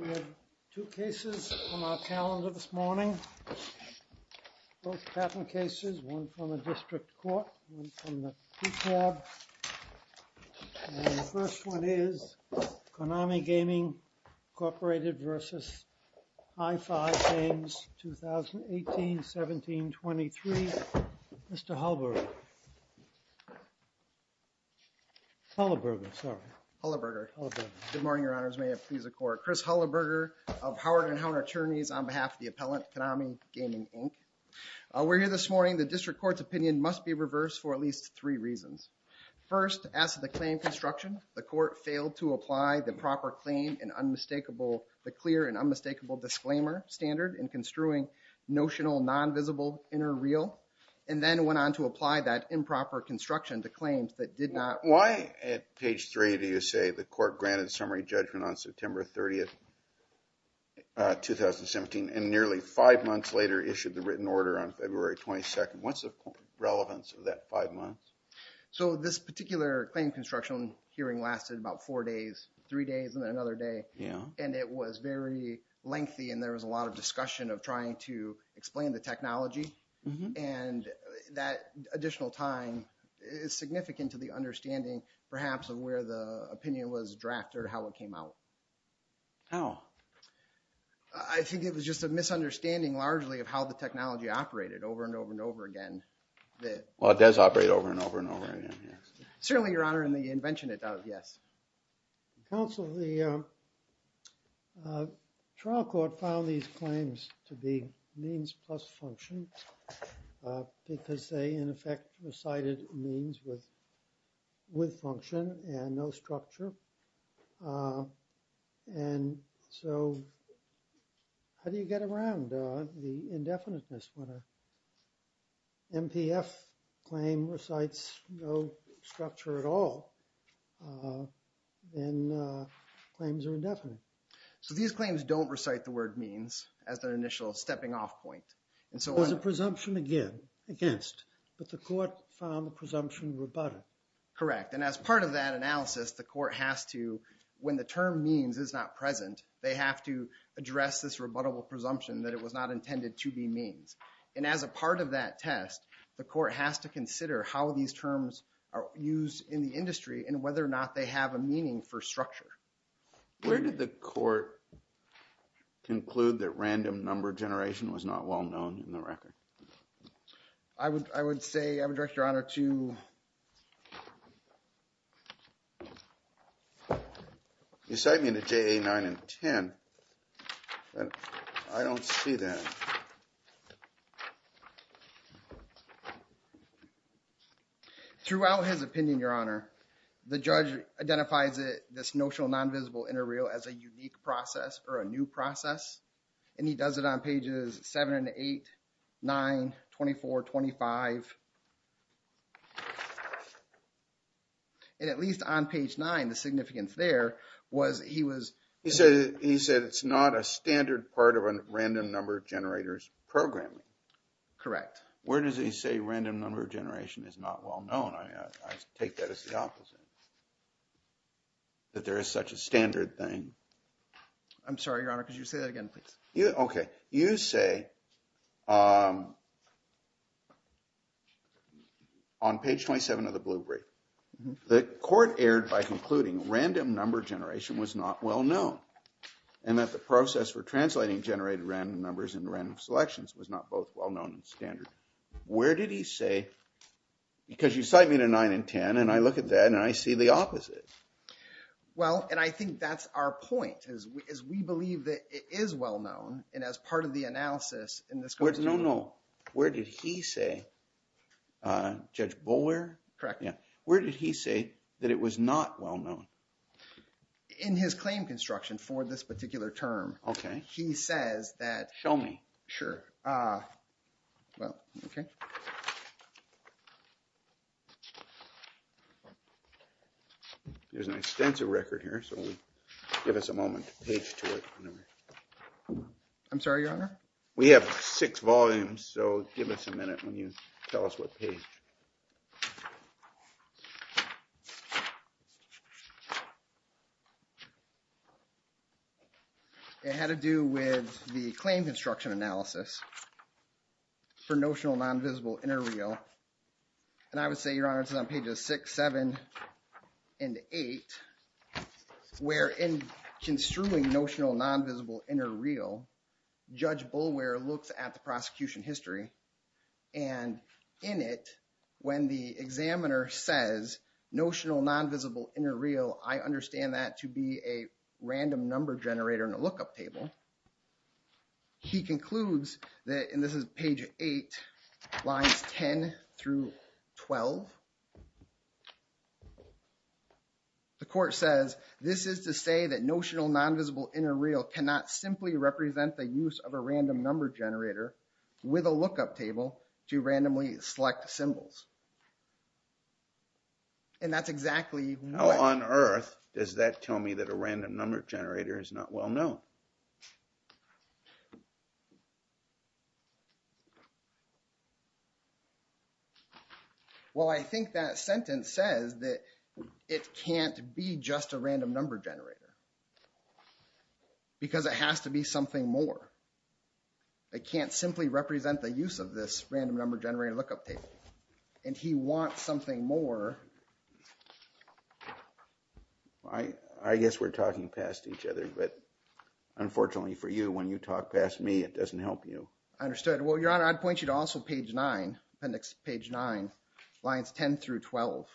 We have two cases on our calendar this morning. Both patent cases, one from the district court, one from the PCAB. And the first one is Konami Gaming Inc. v. High 5 Games, 2018-17-23. Mr. Hullaburger. Hullaburger, sorry. Hullaburger. Hullaburger. Good morning, your honors. May it please the court. Chris Hullaburger of Howard & Hounter Attorneys on behalf of the appellant, Konami Gaming Inc. We're here this morning. The district court's opinion must be reversed for at least three reasons. First, as to the claim construction, the court failed to apply the proper claim and unmistakable – the clear and unmistakable disclaimer standard in construing notional, non-visible inner reel, and then went on to apply that improper construction to claims that did not – Why at page three do you say the court granted summary judgment on September 30th, 2017, and nearly five months later issued the written order on February 22nd? What's the relevance of that five months? So this particular claim construction hearing lasted about four days, three days, and then it was very lengthy, and there was a lot of discussion of trying to explain the technology, and that additional time is significant to the understanding, perhaps, of where the opinion was drafted or how it came out. How? I think it was just a misunderstanding, largely, of how the technology operated over and over and over again. Well, it does operate over and over and over again, yes. Certainly, your honor, in the invention it does, yes. Counsel, the trial court found these claims to be means plus function because they, in effect, recited means with function and no structure, and so how do you get around the indefiniteness when a MPF claim recites no structure at all? Then claims are indefinite. So these claims don't recite the word means as their initial stepping off point. There was a presumption against, but the court found the presumption rebutted. Correct, and as part of that analysis, the court has to, when the term means is not present, they have to address this rebuttable presumption that it was not intended to be means, and as a part of that test, the court has to consider how these terms are used in the industry and whether or not they have a meaning for structure. Where did the court conclude that random number generation was not well known in the record? I would say, I would direct your honor to... You cite me to JA 9 and 10. I don't see that. Throughout his opinion, your honor, the judge identifies it, this notional non-visible inter-reel as a unique process or a new process, and he does it on pages 7 and 8, 9, 24, 25, and at least on page 9, the significance there was he was... Correct. Where does he say random number generation is not well known? I take that as the opposite, that there is such a standard thing. I'm sorry, your honor. Could you say that again, please? Okay. You say on page 27 of the blue brief, the court erred by concluding random number generation was not well known and that the process for translating generated random numbers into random selections was not both well known and standard. Where did he say... Because you cite me to 9 and 10, and I look at that, and I see the opposite. Well, and I think that's our point, is we believe that it is well known, and as part of the analysis in this... No, no. Where did he say, Judge Bowyer? Correct. Where did he say that it was not well known? In his claim construction for this particular term. Okay. He says that... Show me. Sure. Well, okay. There's an extensive record here, so give us a moment to page to it. I'm sorry, your honor? We have six volumes, so give us a minute when you tell us what page. It had to do with the claim construction analysis for notional non-visible inter-reel, and I would say, your honor, it's on pages six, seven, and eight, where in construing notional non-visible inter-reel, Judge Bowyer looks at the prosecution history, and in it, when the examiner says, notional non-visible inter-reel, I understand that to be a random number generator in a lookup table, he concludes that, and this is page eight, lines 10 through 12, the court says, this is to say that notional non-visible inter-reel cannot simply represent the use of a random number generator with a lookup table to randomly select symbols. And that's exactly what... How on earth does that tell me that a random number generator is not well known? Well, I think that sentence says that it can't be just a random number generator, because it has to be something more. It can't simply represent the use of this random number generator lookup table, and he wants something more. I guess we're talking past each other, but unfortunately for you, when you talk past me, it doesn't help you. Understood. Well, Your Honor, I'd point you to also page nine, appendix page nine, lines 10 through 12,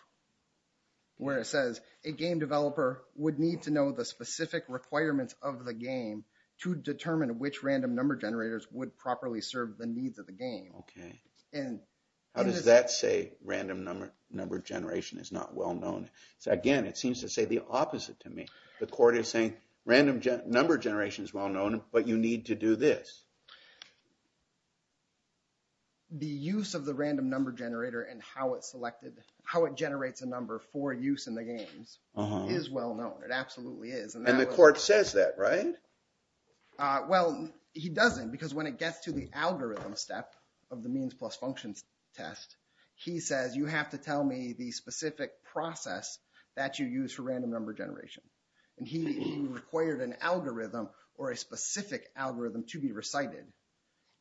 where it says, a game developer would need to know the specific requirements of the game to determine which random number generators would properly serve the needs of the game. Okay. And... How does that say random number generation is not well known? Again, it seems to say the opposite to me. The court is saying random number generation is well known, but you need to do this. The use of the random number generator and how it generates a number for use in the games is well known. It absolutely is. And the court says that, right? Well, he doesn't, because when it gets to the algorithm step of the means plus functions test, he says, you have to tell me the specific process that you use for random number generation. And he required an algorithm or a specific algorithm to be recited.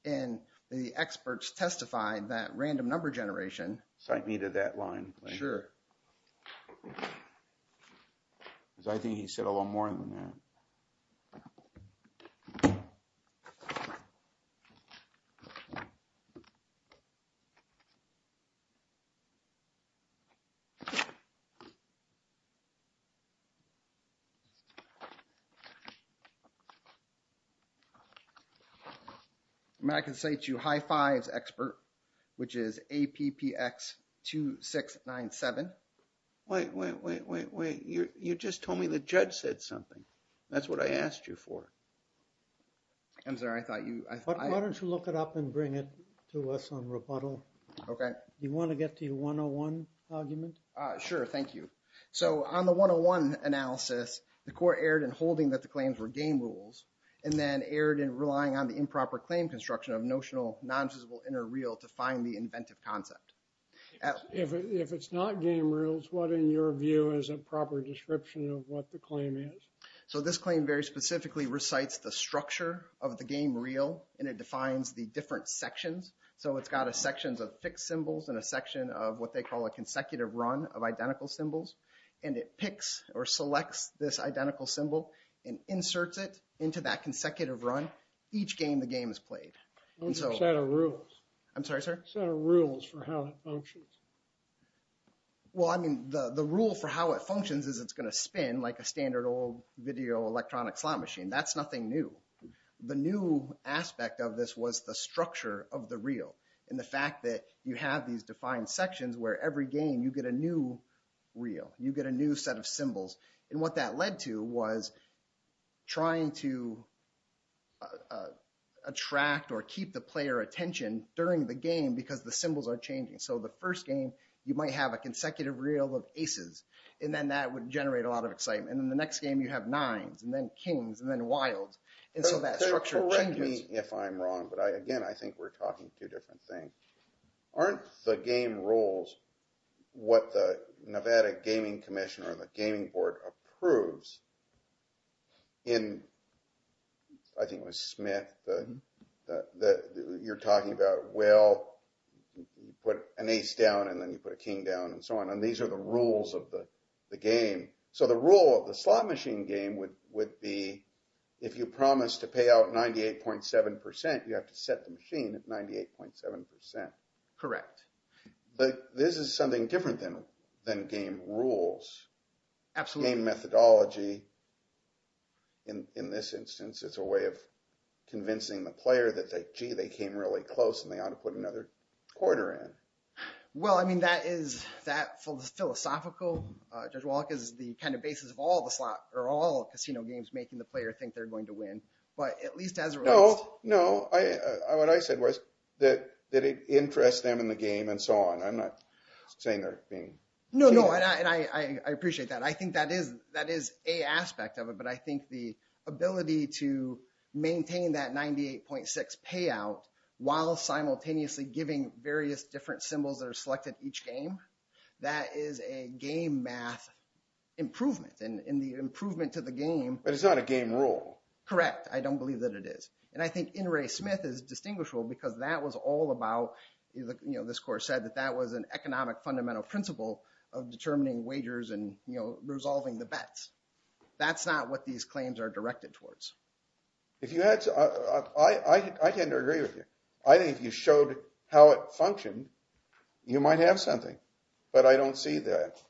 And the experts testified that random number generation... Cite me to that line, please. Sure. Because I think he said a lot more than that. I mean, I can say to you, high fives expert, which is APPX2697. Wait, wait, wait, wait, wait. You just told me the judge said something. That's what I asked you for. I'm sorry. I thought you... Why don't you look it up and bring it to us on rebuttal? Okay. You want to get to your 101 argument? Sure. Thank you. So on the 101 analysis, the court erred in holding that the claims were game rules and then erred in relying on the improper claim construction of notional non-visible inner real to find the inventive concept. If it's not game rules, what in your view is a proper description of what the claim is? So this claim very specifically recites the structure of the game real and it defines the different sections. So it's got sections of fixed symbols and a section of what they call a consecutive run of identical symbols. And it picks or selects this identical symbol and inserts it into that consecutive run. Each game the game is played. What's the set of rules? I'm sorry, sir? Set of rules for how it functions. Well, I mean, the rule for how it functions is it's going to spin like a standard old video electronic slot machine. That's nothing new. The new aspect of this was the structure of the real and the fact that you have these defined sections where every game you get a new real. You get a new set of symbols. And what that led to was trying to attract or keep the player attention during the game because the symbols are changing. So the first game you might have a consecutive real of aces and then that would generate a lot of excitement. And then the next game you have nines and then kings and then wilds. And so that structure changes. Correct me if I'm wrong, but, again, I think we're talking two different things. Aren't the game rules what the Nevada Gaming Commission or the Gaming Board approves in, I think it was Smith, that you're talking about, well, you put an ace down and then you put a king down and so on. And these are the rules of the game. So the rule of the slot machine game would be if you promise to pay out 98.7 percent, you have to set the machine at 98.7 percent. Correct. This is something different than game rules. Absolutely. Game methodology, in this instance, is a way of convincing the player that, gee, they came really close and they ought to put another quarter in. Well, I mean, that is that philosophical. Judge Wallach is the kind of basis of all casino games making the player think they're going to win, but at least as a result. No, no. What I said was that it interests them in the game and so on. I'm not saying they're being cheated. No, no, and I appreciate that. I think that is a aspect of it, but I think the ability to maintain that 98.6 payout while simultaneously giving various different symbols that are selected each game, that is a game math improvement and the improvement to the game. But it's not a game rule. Correct. I don't believe that it is. And I think In re Smith is distinguishable because that was all about, you know, this course said that that was an economic fundamental principle of determining wagers and, you know, resolving the bets. That's not what these claims are directed towards. If you had to, I tend to agree with you. I think you showed how it functioned. You might have something, but I don't see that.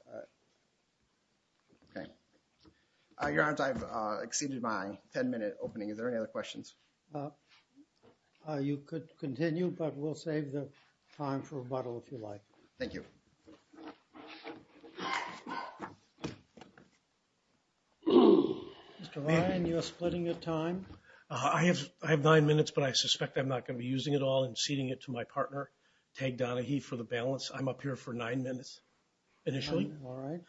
Okay. Your Honor, I've exceeded my ten minute opening. Is there any other questions? You could continue, but we'll save the time for rebuttal if you like. Thank you. Mr. Ryan, you are splitting your time. I have nine minutes, but I suspect I'm not going to be using it all and ceding it to my partner, Tag Donaghy, for the balance. I'm up here for nine minutes initially. All right.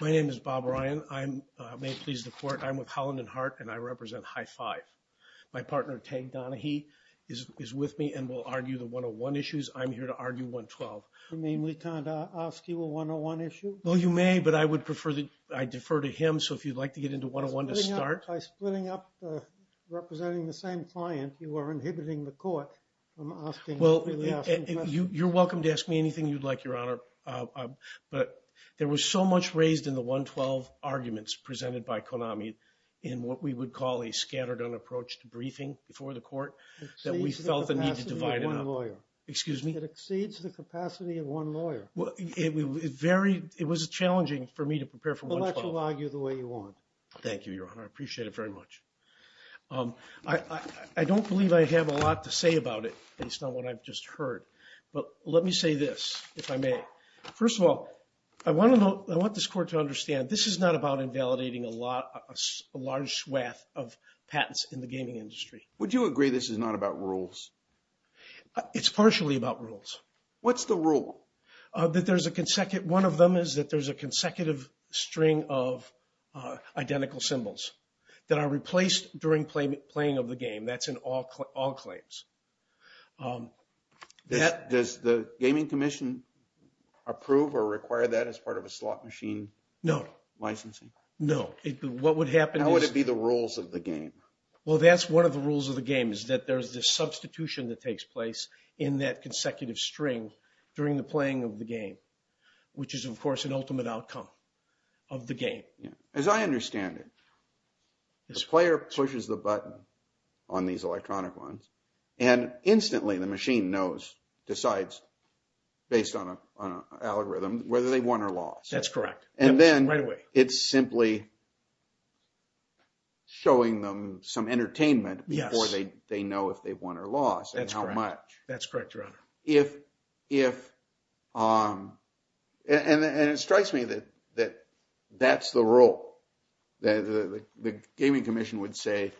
My name is Bob Ryan. I'm with Holland and Hart, and I represent High Five. My partner, Tag Donaghy, is with me and will argue the 101 issues. I'm here to argue 112. You mean we can't ask you a 101 issue? Well, you may, but I would prefer that I defer to him. So, if you'd like to get into 101 to start. By splitting up, representing the same client, you are inhibiting the court from asking the questions. Well, you're welcome to ask me anything you'd like, Your Honor. But there was so much raised in the 112 arguments presented by Konami in what we would call a scattered-on approach to briefing before the court that we felt the need to divide it up. Excuse me? It exceeds the capacity of one lawyer. It was challenging for me to prepare for 112. Well, let's argue the way you want. Thank you, Your Honor. I appreciate it very much. I don't believe I have a lot to say about it based on what I've just heard. But let me say this, if I may. First of all, I want this court to understand this is not about invalidating a large swath of patents in the gaming industry. Would you agree this is not about rules? It's partially about rules. What's the rule? One of them is that there's a consecutive string of identical symbols that are replaced during playing of the game. That's in all claims. Does the Gaming Commission approve or require that as part of a slot machine licensing? No. No. What would happen is… How would it be the rules of the game? Well, that's one of the rules of the game, is that there's this substitution that takes place in that consecutive string during the playing of the game, which is, of course, an ultimate outcome of the game. As I understand it, the player pushes the button on these electronic ones, and instantly the machine knows, decides, based on an algorithm, whether they won or lost. That's correct. Right away. It's simply showing them some entertainment before they know if they've won or lost and how much. That's correct, Your Honor. And it strikes me that that's the rule. The Gaming Commission would say,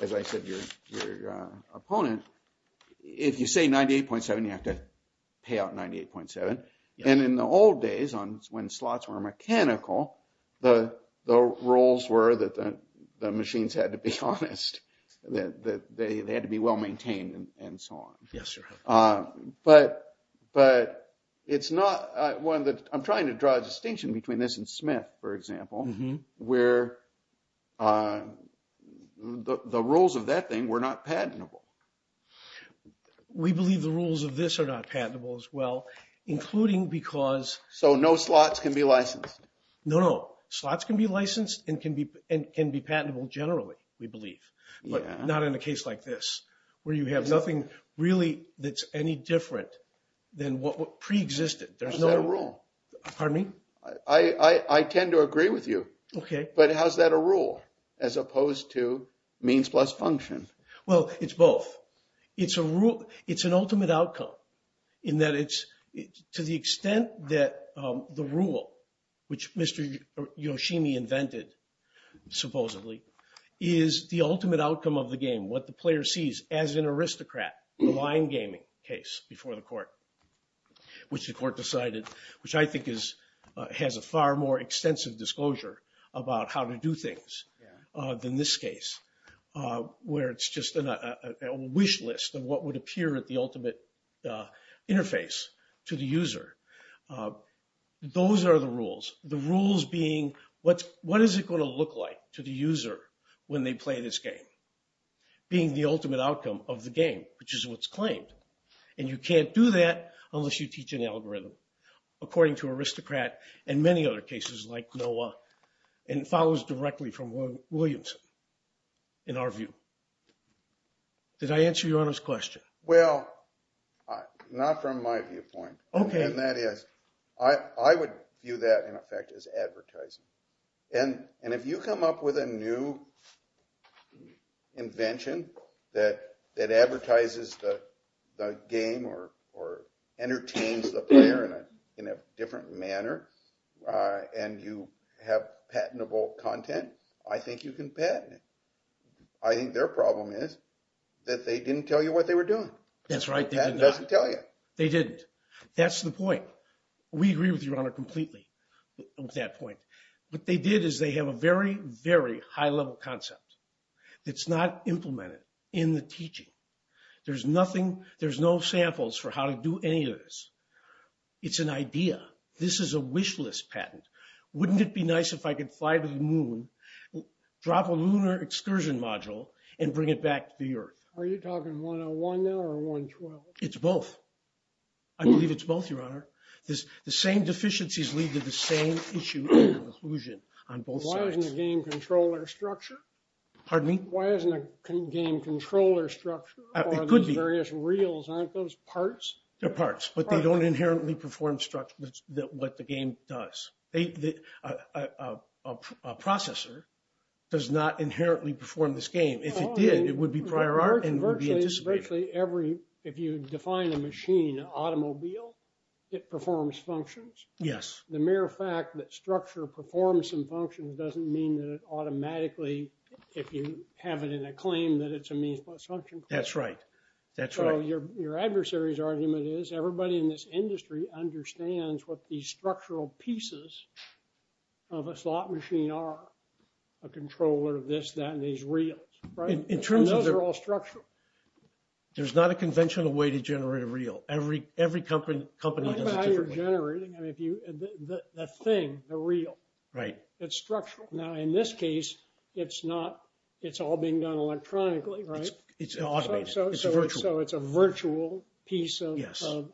as I said to your opponent, if you say 98.7, you have to pay out 98.7. And in the old days, when slots were mechanical, the rules were that the machines had to be honest, that they had to be well-maintained, and so on. Yes, Your Honor. But it's not… I'm trying to draw a distinction between this and Smith, for example, where the rules of that thing were not patentable. We believe the rules of this are not patentable as well, including because… So no slots can be licensed? No, no. Slots can be licensed and can be patentable generally, we believe. But not in a case like this, where you have nothing really that's any different than what preexisted. How is that a rule? Pardon me? I tend to agree with you. Okay. But how is that a rule, as opposed to means plus function? Well, it's both. It's an ultimate outcome in that to the extent that the rule, which Mr. Yoshimi invented, supposedly, is the ultimate outcome of the game, what the player sees as an aristocrat, the line gaming case before the court, which the court decided, which I think has a far more extensive disclosure about how to do things than this case, where it's just a wish list of what would appear at the ultimate interface to the user. Those are the rules. The rules being, what is it going to look like to the user when they play this game? Being the ultimate outcome of the game, which is what's claimed. And you can't do that unless you teach an algorithm, according to aristocrat and many other cases like NOAA. And it follows directly from Williamson, in our view. Did I answer Your Honor's question? Well, not from my viewpoint. Okay. And that is, I would view that, in effect, as advertising. And if you come up with a new invention that advertises the game or entertains the player in a different manner, and you have patentable content, I think you can patent it. I think their problem is that they didn't tell you what they were doing. That's right. It doesn't tell you. They didn't. That's the point. We agree with Your Honor completely on that point. What they did is they have a very, very high-level concept that's not implemented in the teaching. There's no samples for how to do any of this. It's an idea. This is a wish list patent. Wouldn't it be nice if I could fly to the moon, drop a lunar excursion module, and bring it back to the earth? Are you talking 101 now or 112? It's both. I believe it's both, Your Honor. The same deficiencies lead to the same issue of inclusion on both sides. Why isn't the game controller structure? Pardon me? Why isn't the game controller structure or the various reels, aren't those parts? They're parts, but they don't inherently perform what the game does. A processor does not inherently perform this game. If it did, it would be prior art and it would be anticipated. If you define a machine, an automobile, it performs functions. The mere fact that structure performs some functions doesn't mean that it automatically, if you have it in a claim, that it's a means plus function. That's right. Your adversary's argument is everybody in this industry understands what these structural pieces of a slot machine are, a controller, this, that, and these reels. Those are all structural. There's not a conventional way to generate a reel. Every company does it differently. No matter how you're generating, the thing, the reel, it's structural. Now, in this case, it's not. It's all being done electronically, right? It's automated. It's virtual. So it's a virtual piece of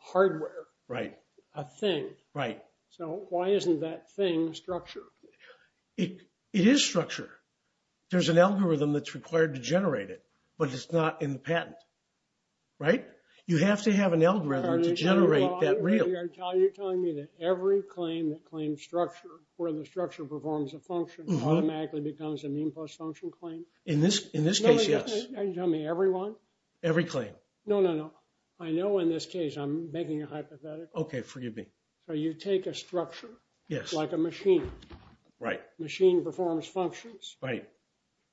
hardware. Right. A thing. Right. So why isn't that thing structured? It is structured. There's an algorithm that's required to generate it, but it's not in the patent. Right? You have to have an algorithm to generate that reel. You're telling me that every claim that claims structure, where the structure performs a function, automatically becomes a mean plus function claim? In this case, yes. Are you telling me every one? Every claim. No, no, no. I know in this case I'm making a hypothetical. Okay. Forgive me. So you take a structure. Yes. Like a machine. Right. Machine performs functions. Right.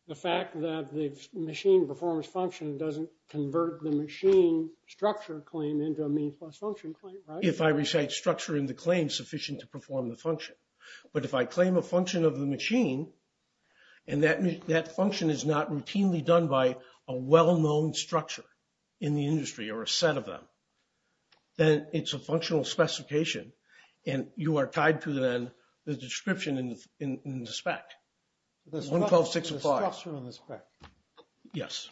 The fact that the machine performs function doesn't convert the machine structure claim into a mean plus function claim, right? If I recite structure in the claim sufficient to perform the function. But if I claim a function of the machine, and that function is not routinely done by a well-known structure in the industry or a set of them, then it's a functional specification, and you are tied to then the description in the spec. The structure in the spec. Yes.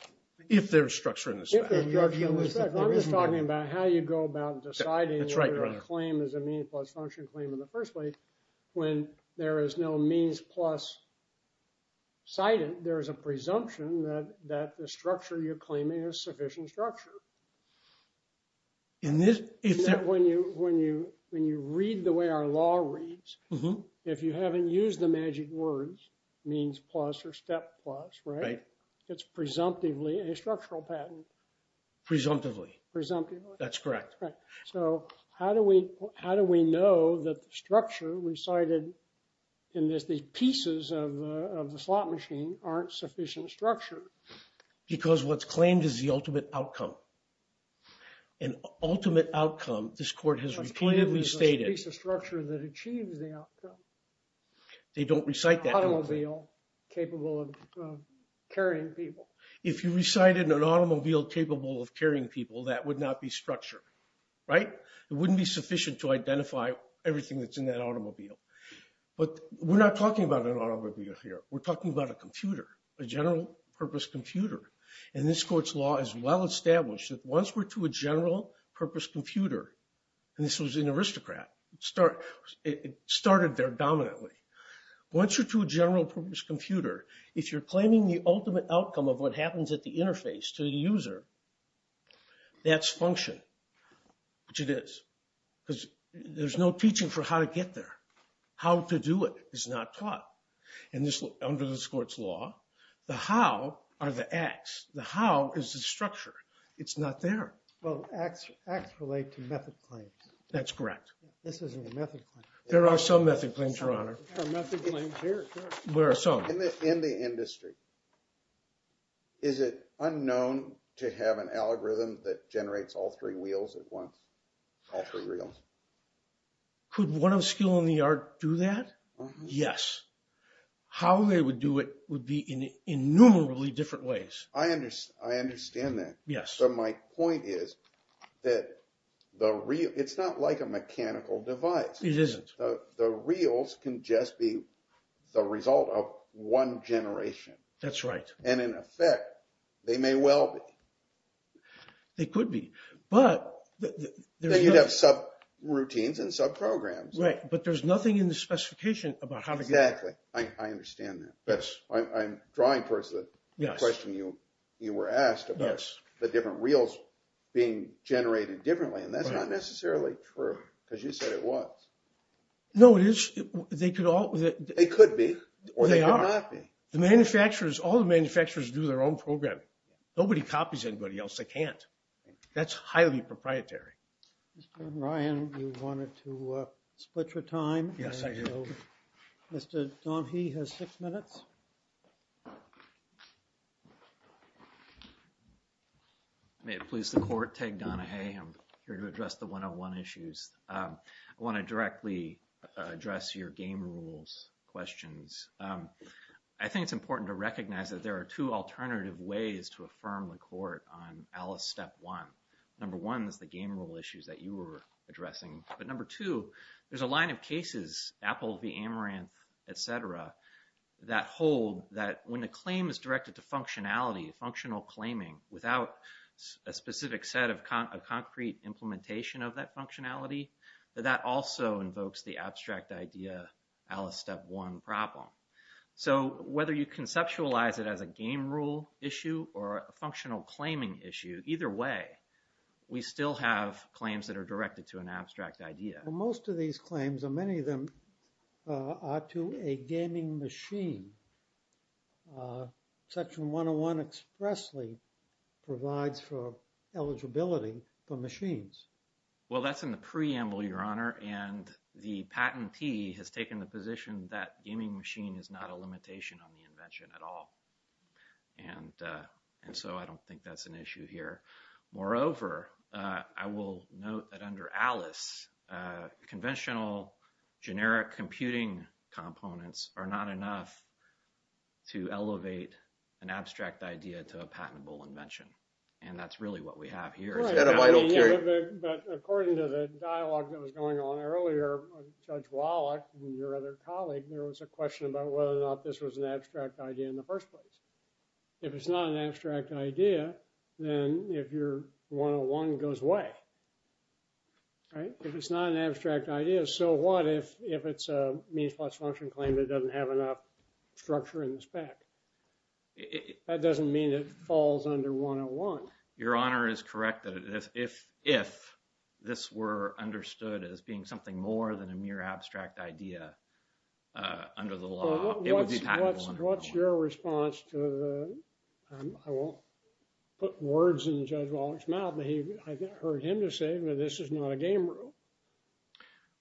If there's structure in the spec. I'm just talking about how you go about deciding whether a claim is a mean plus function claim in the first place. When there is no means plus sighted, there is a presumption that the structure you're claiming is sufficient structure. When you read the way our law reads, if you haven't used the magic words, means plus or step plus, right? It's presumptively a structural patent. Presumptively. Presumptively. That's correct. So how do we know that the structure we cited in this, the pieces of the slot machine aren't sufficient structure? Because what's claimed is the ultimate outcome. An ultimate outcome, this court has repeatedly stated. It's a piece of structure that achieves the outcome. They don't recite that. Automobile capable of carrying people. If you recited an automobile capable of carrying people, that would not be structure, right? It wouldn't be sufficient to identify everything that's in that automobile. But we're not talking about an automobile here. We're talking about a computer, a general purpose computer. And this court's law is well established that once we're to a general purpose computer, and this was an aristocrat. It started there dominantly. Once you're to a general purpose computer, if you're claiming the ultimate outcome of what happens at the interface to the user, that's function, which it is. Because there's no teaching for how to get there. How to do it is not taught. Under this court's law, the how are the acts. The how is the structure. It's not there. Well, acts relate to method claims. That's correct. This isn't a method claim. There are some method claims, Your Honor. There are method claims here. There are some. In the industry, is it unknown to have an algorithm that generates all three wheels at once? All three wheels? Could one of skill and the art do that? Yes. How they would do it would be in innumerably different ways. I understand that. Yes. So my point is that it's not like a mechanical device. It isn't. The reels can just be the result of one generation. That's right. And, in effect, they may well be. They could be, but there's nothing. Then you'd have subroutines and subprograms. Right. But there's nothing in the specification about how to get it. Exactly. I understand that. But I'm drawing towards the question you were asked about the different reels being generated differently. And that's not necessarily true because you said it was. No, it is. They could all. They could be or they could not be. The manufacturers, all the manufacturers do their own programming. Nobody copies anybody else. They can't. That's highly proprietary. Ryan, you wanted to split your time? Yes, I do. Mr. Donahue has six minutes. May it please the court. Ted Donahue. I'm here to address the one on one issues. I want to directly address your game rules questions. I think it's important to recognize that there are two alternative ways to affirm the court on Alice step one. Number one is the game rule issues that you were addressing. But number two, there's a line of cases, Apple v. Amaranth, etc., that hold that when the claim is directed to functionality, functional claiming without a specific set of concrete implementation of that functionality, that also invokes the abstract idea Alice step one problem. So whether you conceptualize it as a game rule issue or a functional claiming issue, either way, we still have claims that are directed to an abstract idea. Most of these claims, many of them are to a gaming machine. Section 101 expressly provides for eligibility for machines. Well, that's in the preamble, Your Honor. And the patentee has taken the position that gaming machine is not a limitation on the invention at all. And and so I don't think that's an issue here. Moreover, I will note that under Alice, conventional generic computing components are not enough to elevate an abstract idea to a patentable invention. And that's really what we have here. But according to the dialogue that was going on earlier, Judge Wallach and your other colleague, there was a question about whether or not this was an abstract idea in the first place. If it's not an abstract idea, then if you're 101 goes away. Right. If it's not an abstract idea. So what if if it's a means plus function claim that doesn't have enough structure in the spec? That doesn't mean it falls under 101. Your Honor is correct that if if if this were understood as being something more than a mere abstract idea under the law, it would be patentable. What's your response to the I won't put words in Judge Wallach's mouth, but I heard him to say, well, this is not a game rule.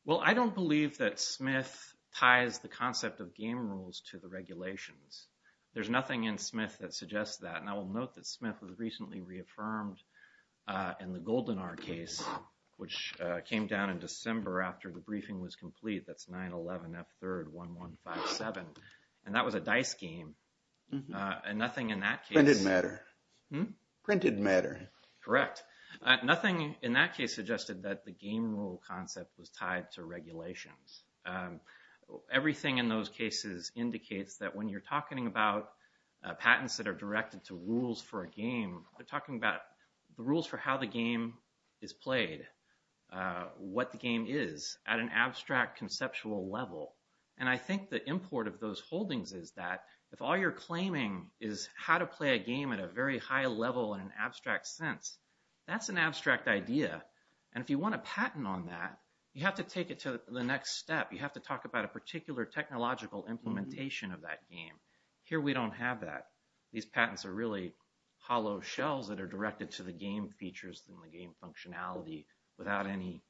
Well, I don't believe that Smith ties the concept of game rules to the regulations. There's nothing in Smith that suggests that. And I will note that Smith was recently reaffirmed in the golden our case, which came down in December after the briefing was complete. That's nine eleven. Third, one, one, five, seven. And that was a dice game and nothing in that case didn't matter. Printed matter. Correct. Nothing in that case suggested that the game rule concept was tied to regulations. Everything in those cases indicates that when you're talking about patents that are directed to rules for a game, we're talking about the rules for how the game is played, what the game is at an abstract conceptual level. And I think the import of those holdings is that if all you're claiming is how to play a game at a very high level in an abstract sense, that's an abstract idea. And if you want a patent on that, you have to take it to the next step. You have to talk about a particular technological implementation of that game here. We don't have that. These patents are really hollow shells that are directed to the game features and the game functionality without any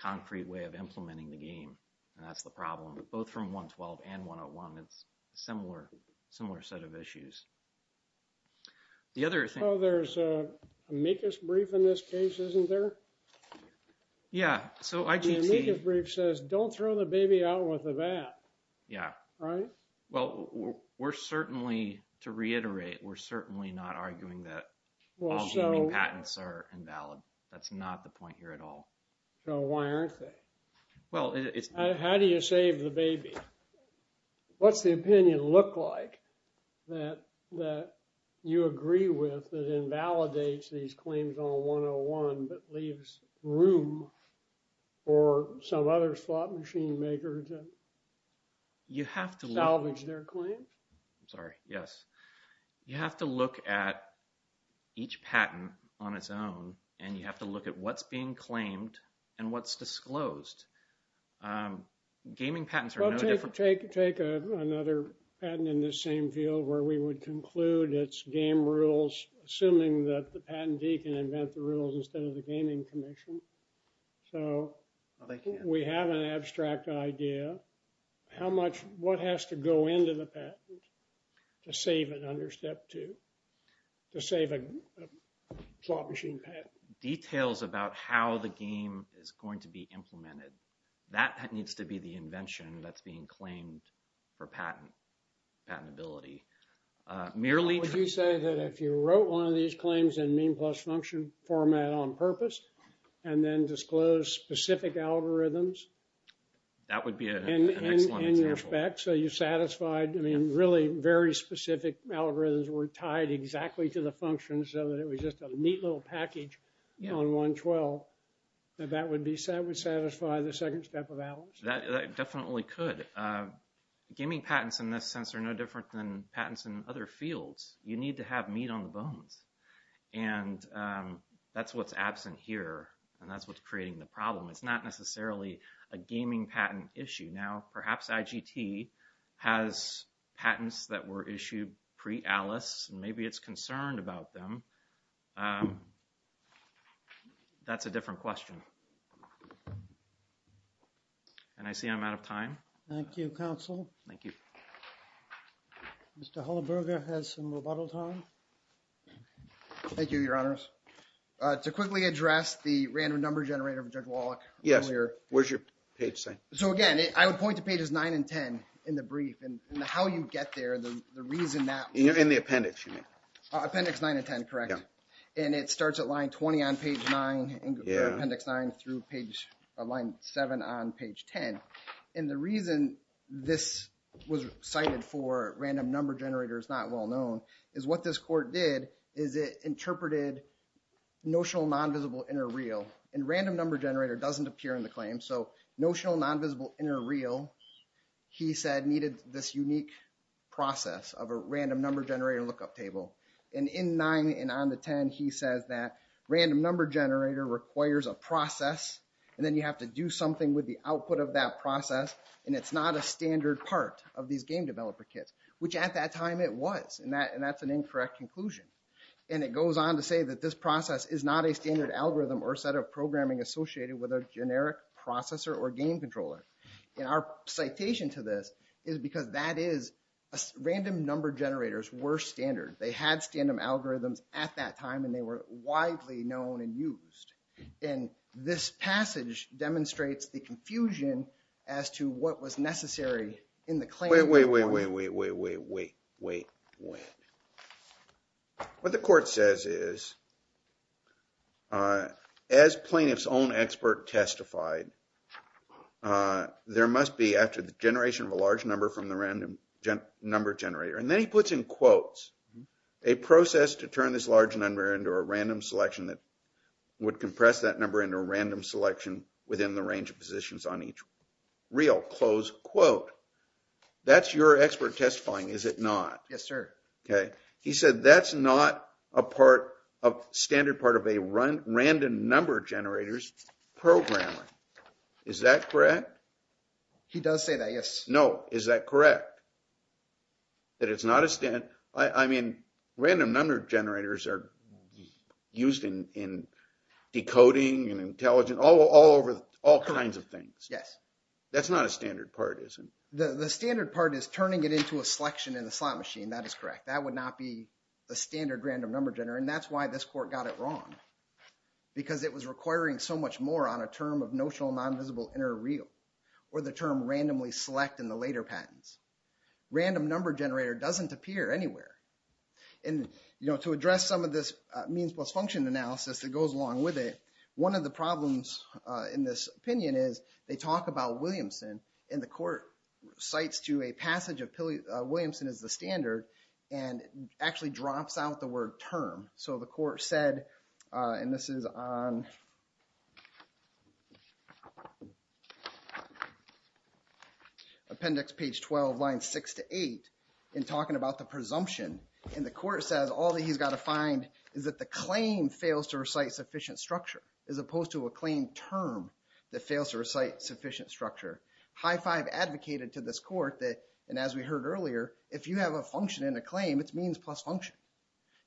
concrete way of implementing the game. And that's the problem. But both from 112 and 101, it's similar, similar set of issues. The other thing. Oh, there's a amicus brief in this case, isn't there? Yeah. So the amicus brief says don't throw the baby out with the bat. Yeah. Right. Well, we're certainly, to reiterate, we're certainly not arguing that all gaming patents are invalid. That's not the point here at all. So why aren't they? Well, how do you save the baby? What's the opinion look like that you agree with that invalidates these claims on 101, but leaves room for some other slot machine makers to salvage their claims? I'm sorry. Yes. You have to look at each patent on its own, and you have to look at what's being claimed and what's disclosed. Gaming patents are no different. Take another patent in the same field where we would conclude it's game rules, assuming that the patentee can invent the rules instead of the gaming commission. So we have an abstract idea how much, what has to go into the patent to save it under step two, to save a slot machine patent. Details about how the game is going to be implemented. That needs to be the invention that's being claimed for patent, patentability. Would you say that if you wrote one of these claims in mean plus function format on purpose, and then disclose specific algorithms? That would be an excellent example. So you satisfied, I mean, really very specific algorithms were tied exactly to the function, so that it was just a neat little package on 112. That would satisfy the second step of that? That definitely could. Gaming patents in this sense are no different than patents in other fields. You need to have meat on the bones, and that's what's absent here, and that's what's creating the problem. It's not necessarily a gaming patent issue. Now, perhaps IGT has patents that were issued pre-ALICE, and maybe it's concerned about them. That's a different question. Thank you. And I see I'm out of time. Thank you, counsel. Thank you. Mr. Hullerberger has some rebuttal time. Thank you, Your Honors. To quickly address the random number generator of Judge Wallach. Yes, where's your page say? So again, I would point to pages 9 and 10 in the brief, and how you get there, the reason that. In the appendix, you mean? Appendix 9 and 10, correct. And it starts at line 20 on page 9, appendix 9 through line 7 on page 10. And the reason this was cited for random number generator is not well known, is what this court did is it interpreted notional non-visible inner real. And random number generator doesn't appear in the claim, so notional non-visible inner real, he said, needed this unique process of a random number generator lookup table. And in 9 and on the 10, he says that random number generator requires a process, and then you have to do something with the output of that process, and it's not a standard part of these game developer kits, which at that time it was. And that's an incorrect conclusion. And it goes on to say that this process is not a standard algorithm or set of programming associated with a generic processor or game controller. And our citation to this is because that is, random number generators were standard. They had standard algorithms at that time, and they were widely known and used. And this passage demonstrates the confusion as to what was necessary in the claim. Wait, wait, wait, wait, wait, wait, wait, wait, wait. What the court says is, as plaintiff's own expert testified, there must be after the generation of a large number from the random number generator, and then he puts in quotes, a process to turn this large number into a random selection that would compress that number into a random selection within the range of positions on each real. Close quote. That's your expert testifying, is it not? Yes, sir. Okay, he said that's not a standard part of a random number generator's programming. Is that correct? He does say that, yes. No, is that correct? That it's not a standard? I mean, random number generators are used in decoding and intelligence, all kinds of things. Yes. That's not a standard part, is it? The standard part is turning it into a selection in the slot machine. That is correct. That would not be a standard random number generator, and that's why this court got it wrong. Because it was requiring so much more on a term of notional non-visible inner real, or the term randomly select in the later patents. Random number generator doesn't appear anywhere. And, you know, to address some of this means plus function analysis that goes along with it, one of the problems in this opinion is they talk about Williamson, and the court cites to a passage of Williamson as the standard, and actually drops out the word term. So the court said, and this is on appendix page 12, line 6 to 8, in talking about the presumption, and the court says all that he's got to find is that the claim fails to recite sufficient structure, as opposed to a claim term that fails to recite sufficient structure. High Five advocated to this court that, and as we heard earlier, if you have a function in a claim, it's means plus function.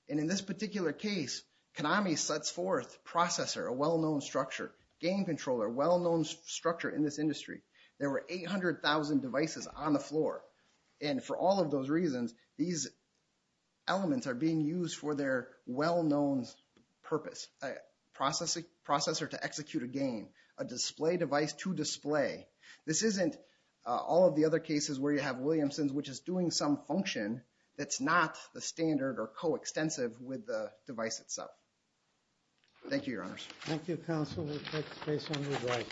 And in this particular case, Konami sets forth processor, a well-known structure, game controller, a well-known structure in this industry. There were 800,000 devices on the floor, and for all of those reasons, these elements are being used for their well-known purpose. A processor to execute a game, a display device to display. This isn't all of the other cases where you have Williamson's, which is doing some function that's not the standard or co-extensive with the device itself. Thank you, Your Honors. Thank you, Counsel. We'll take a break.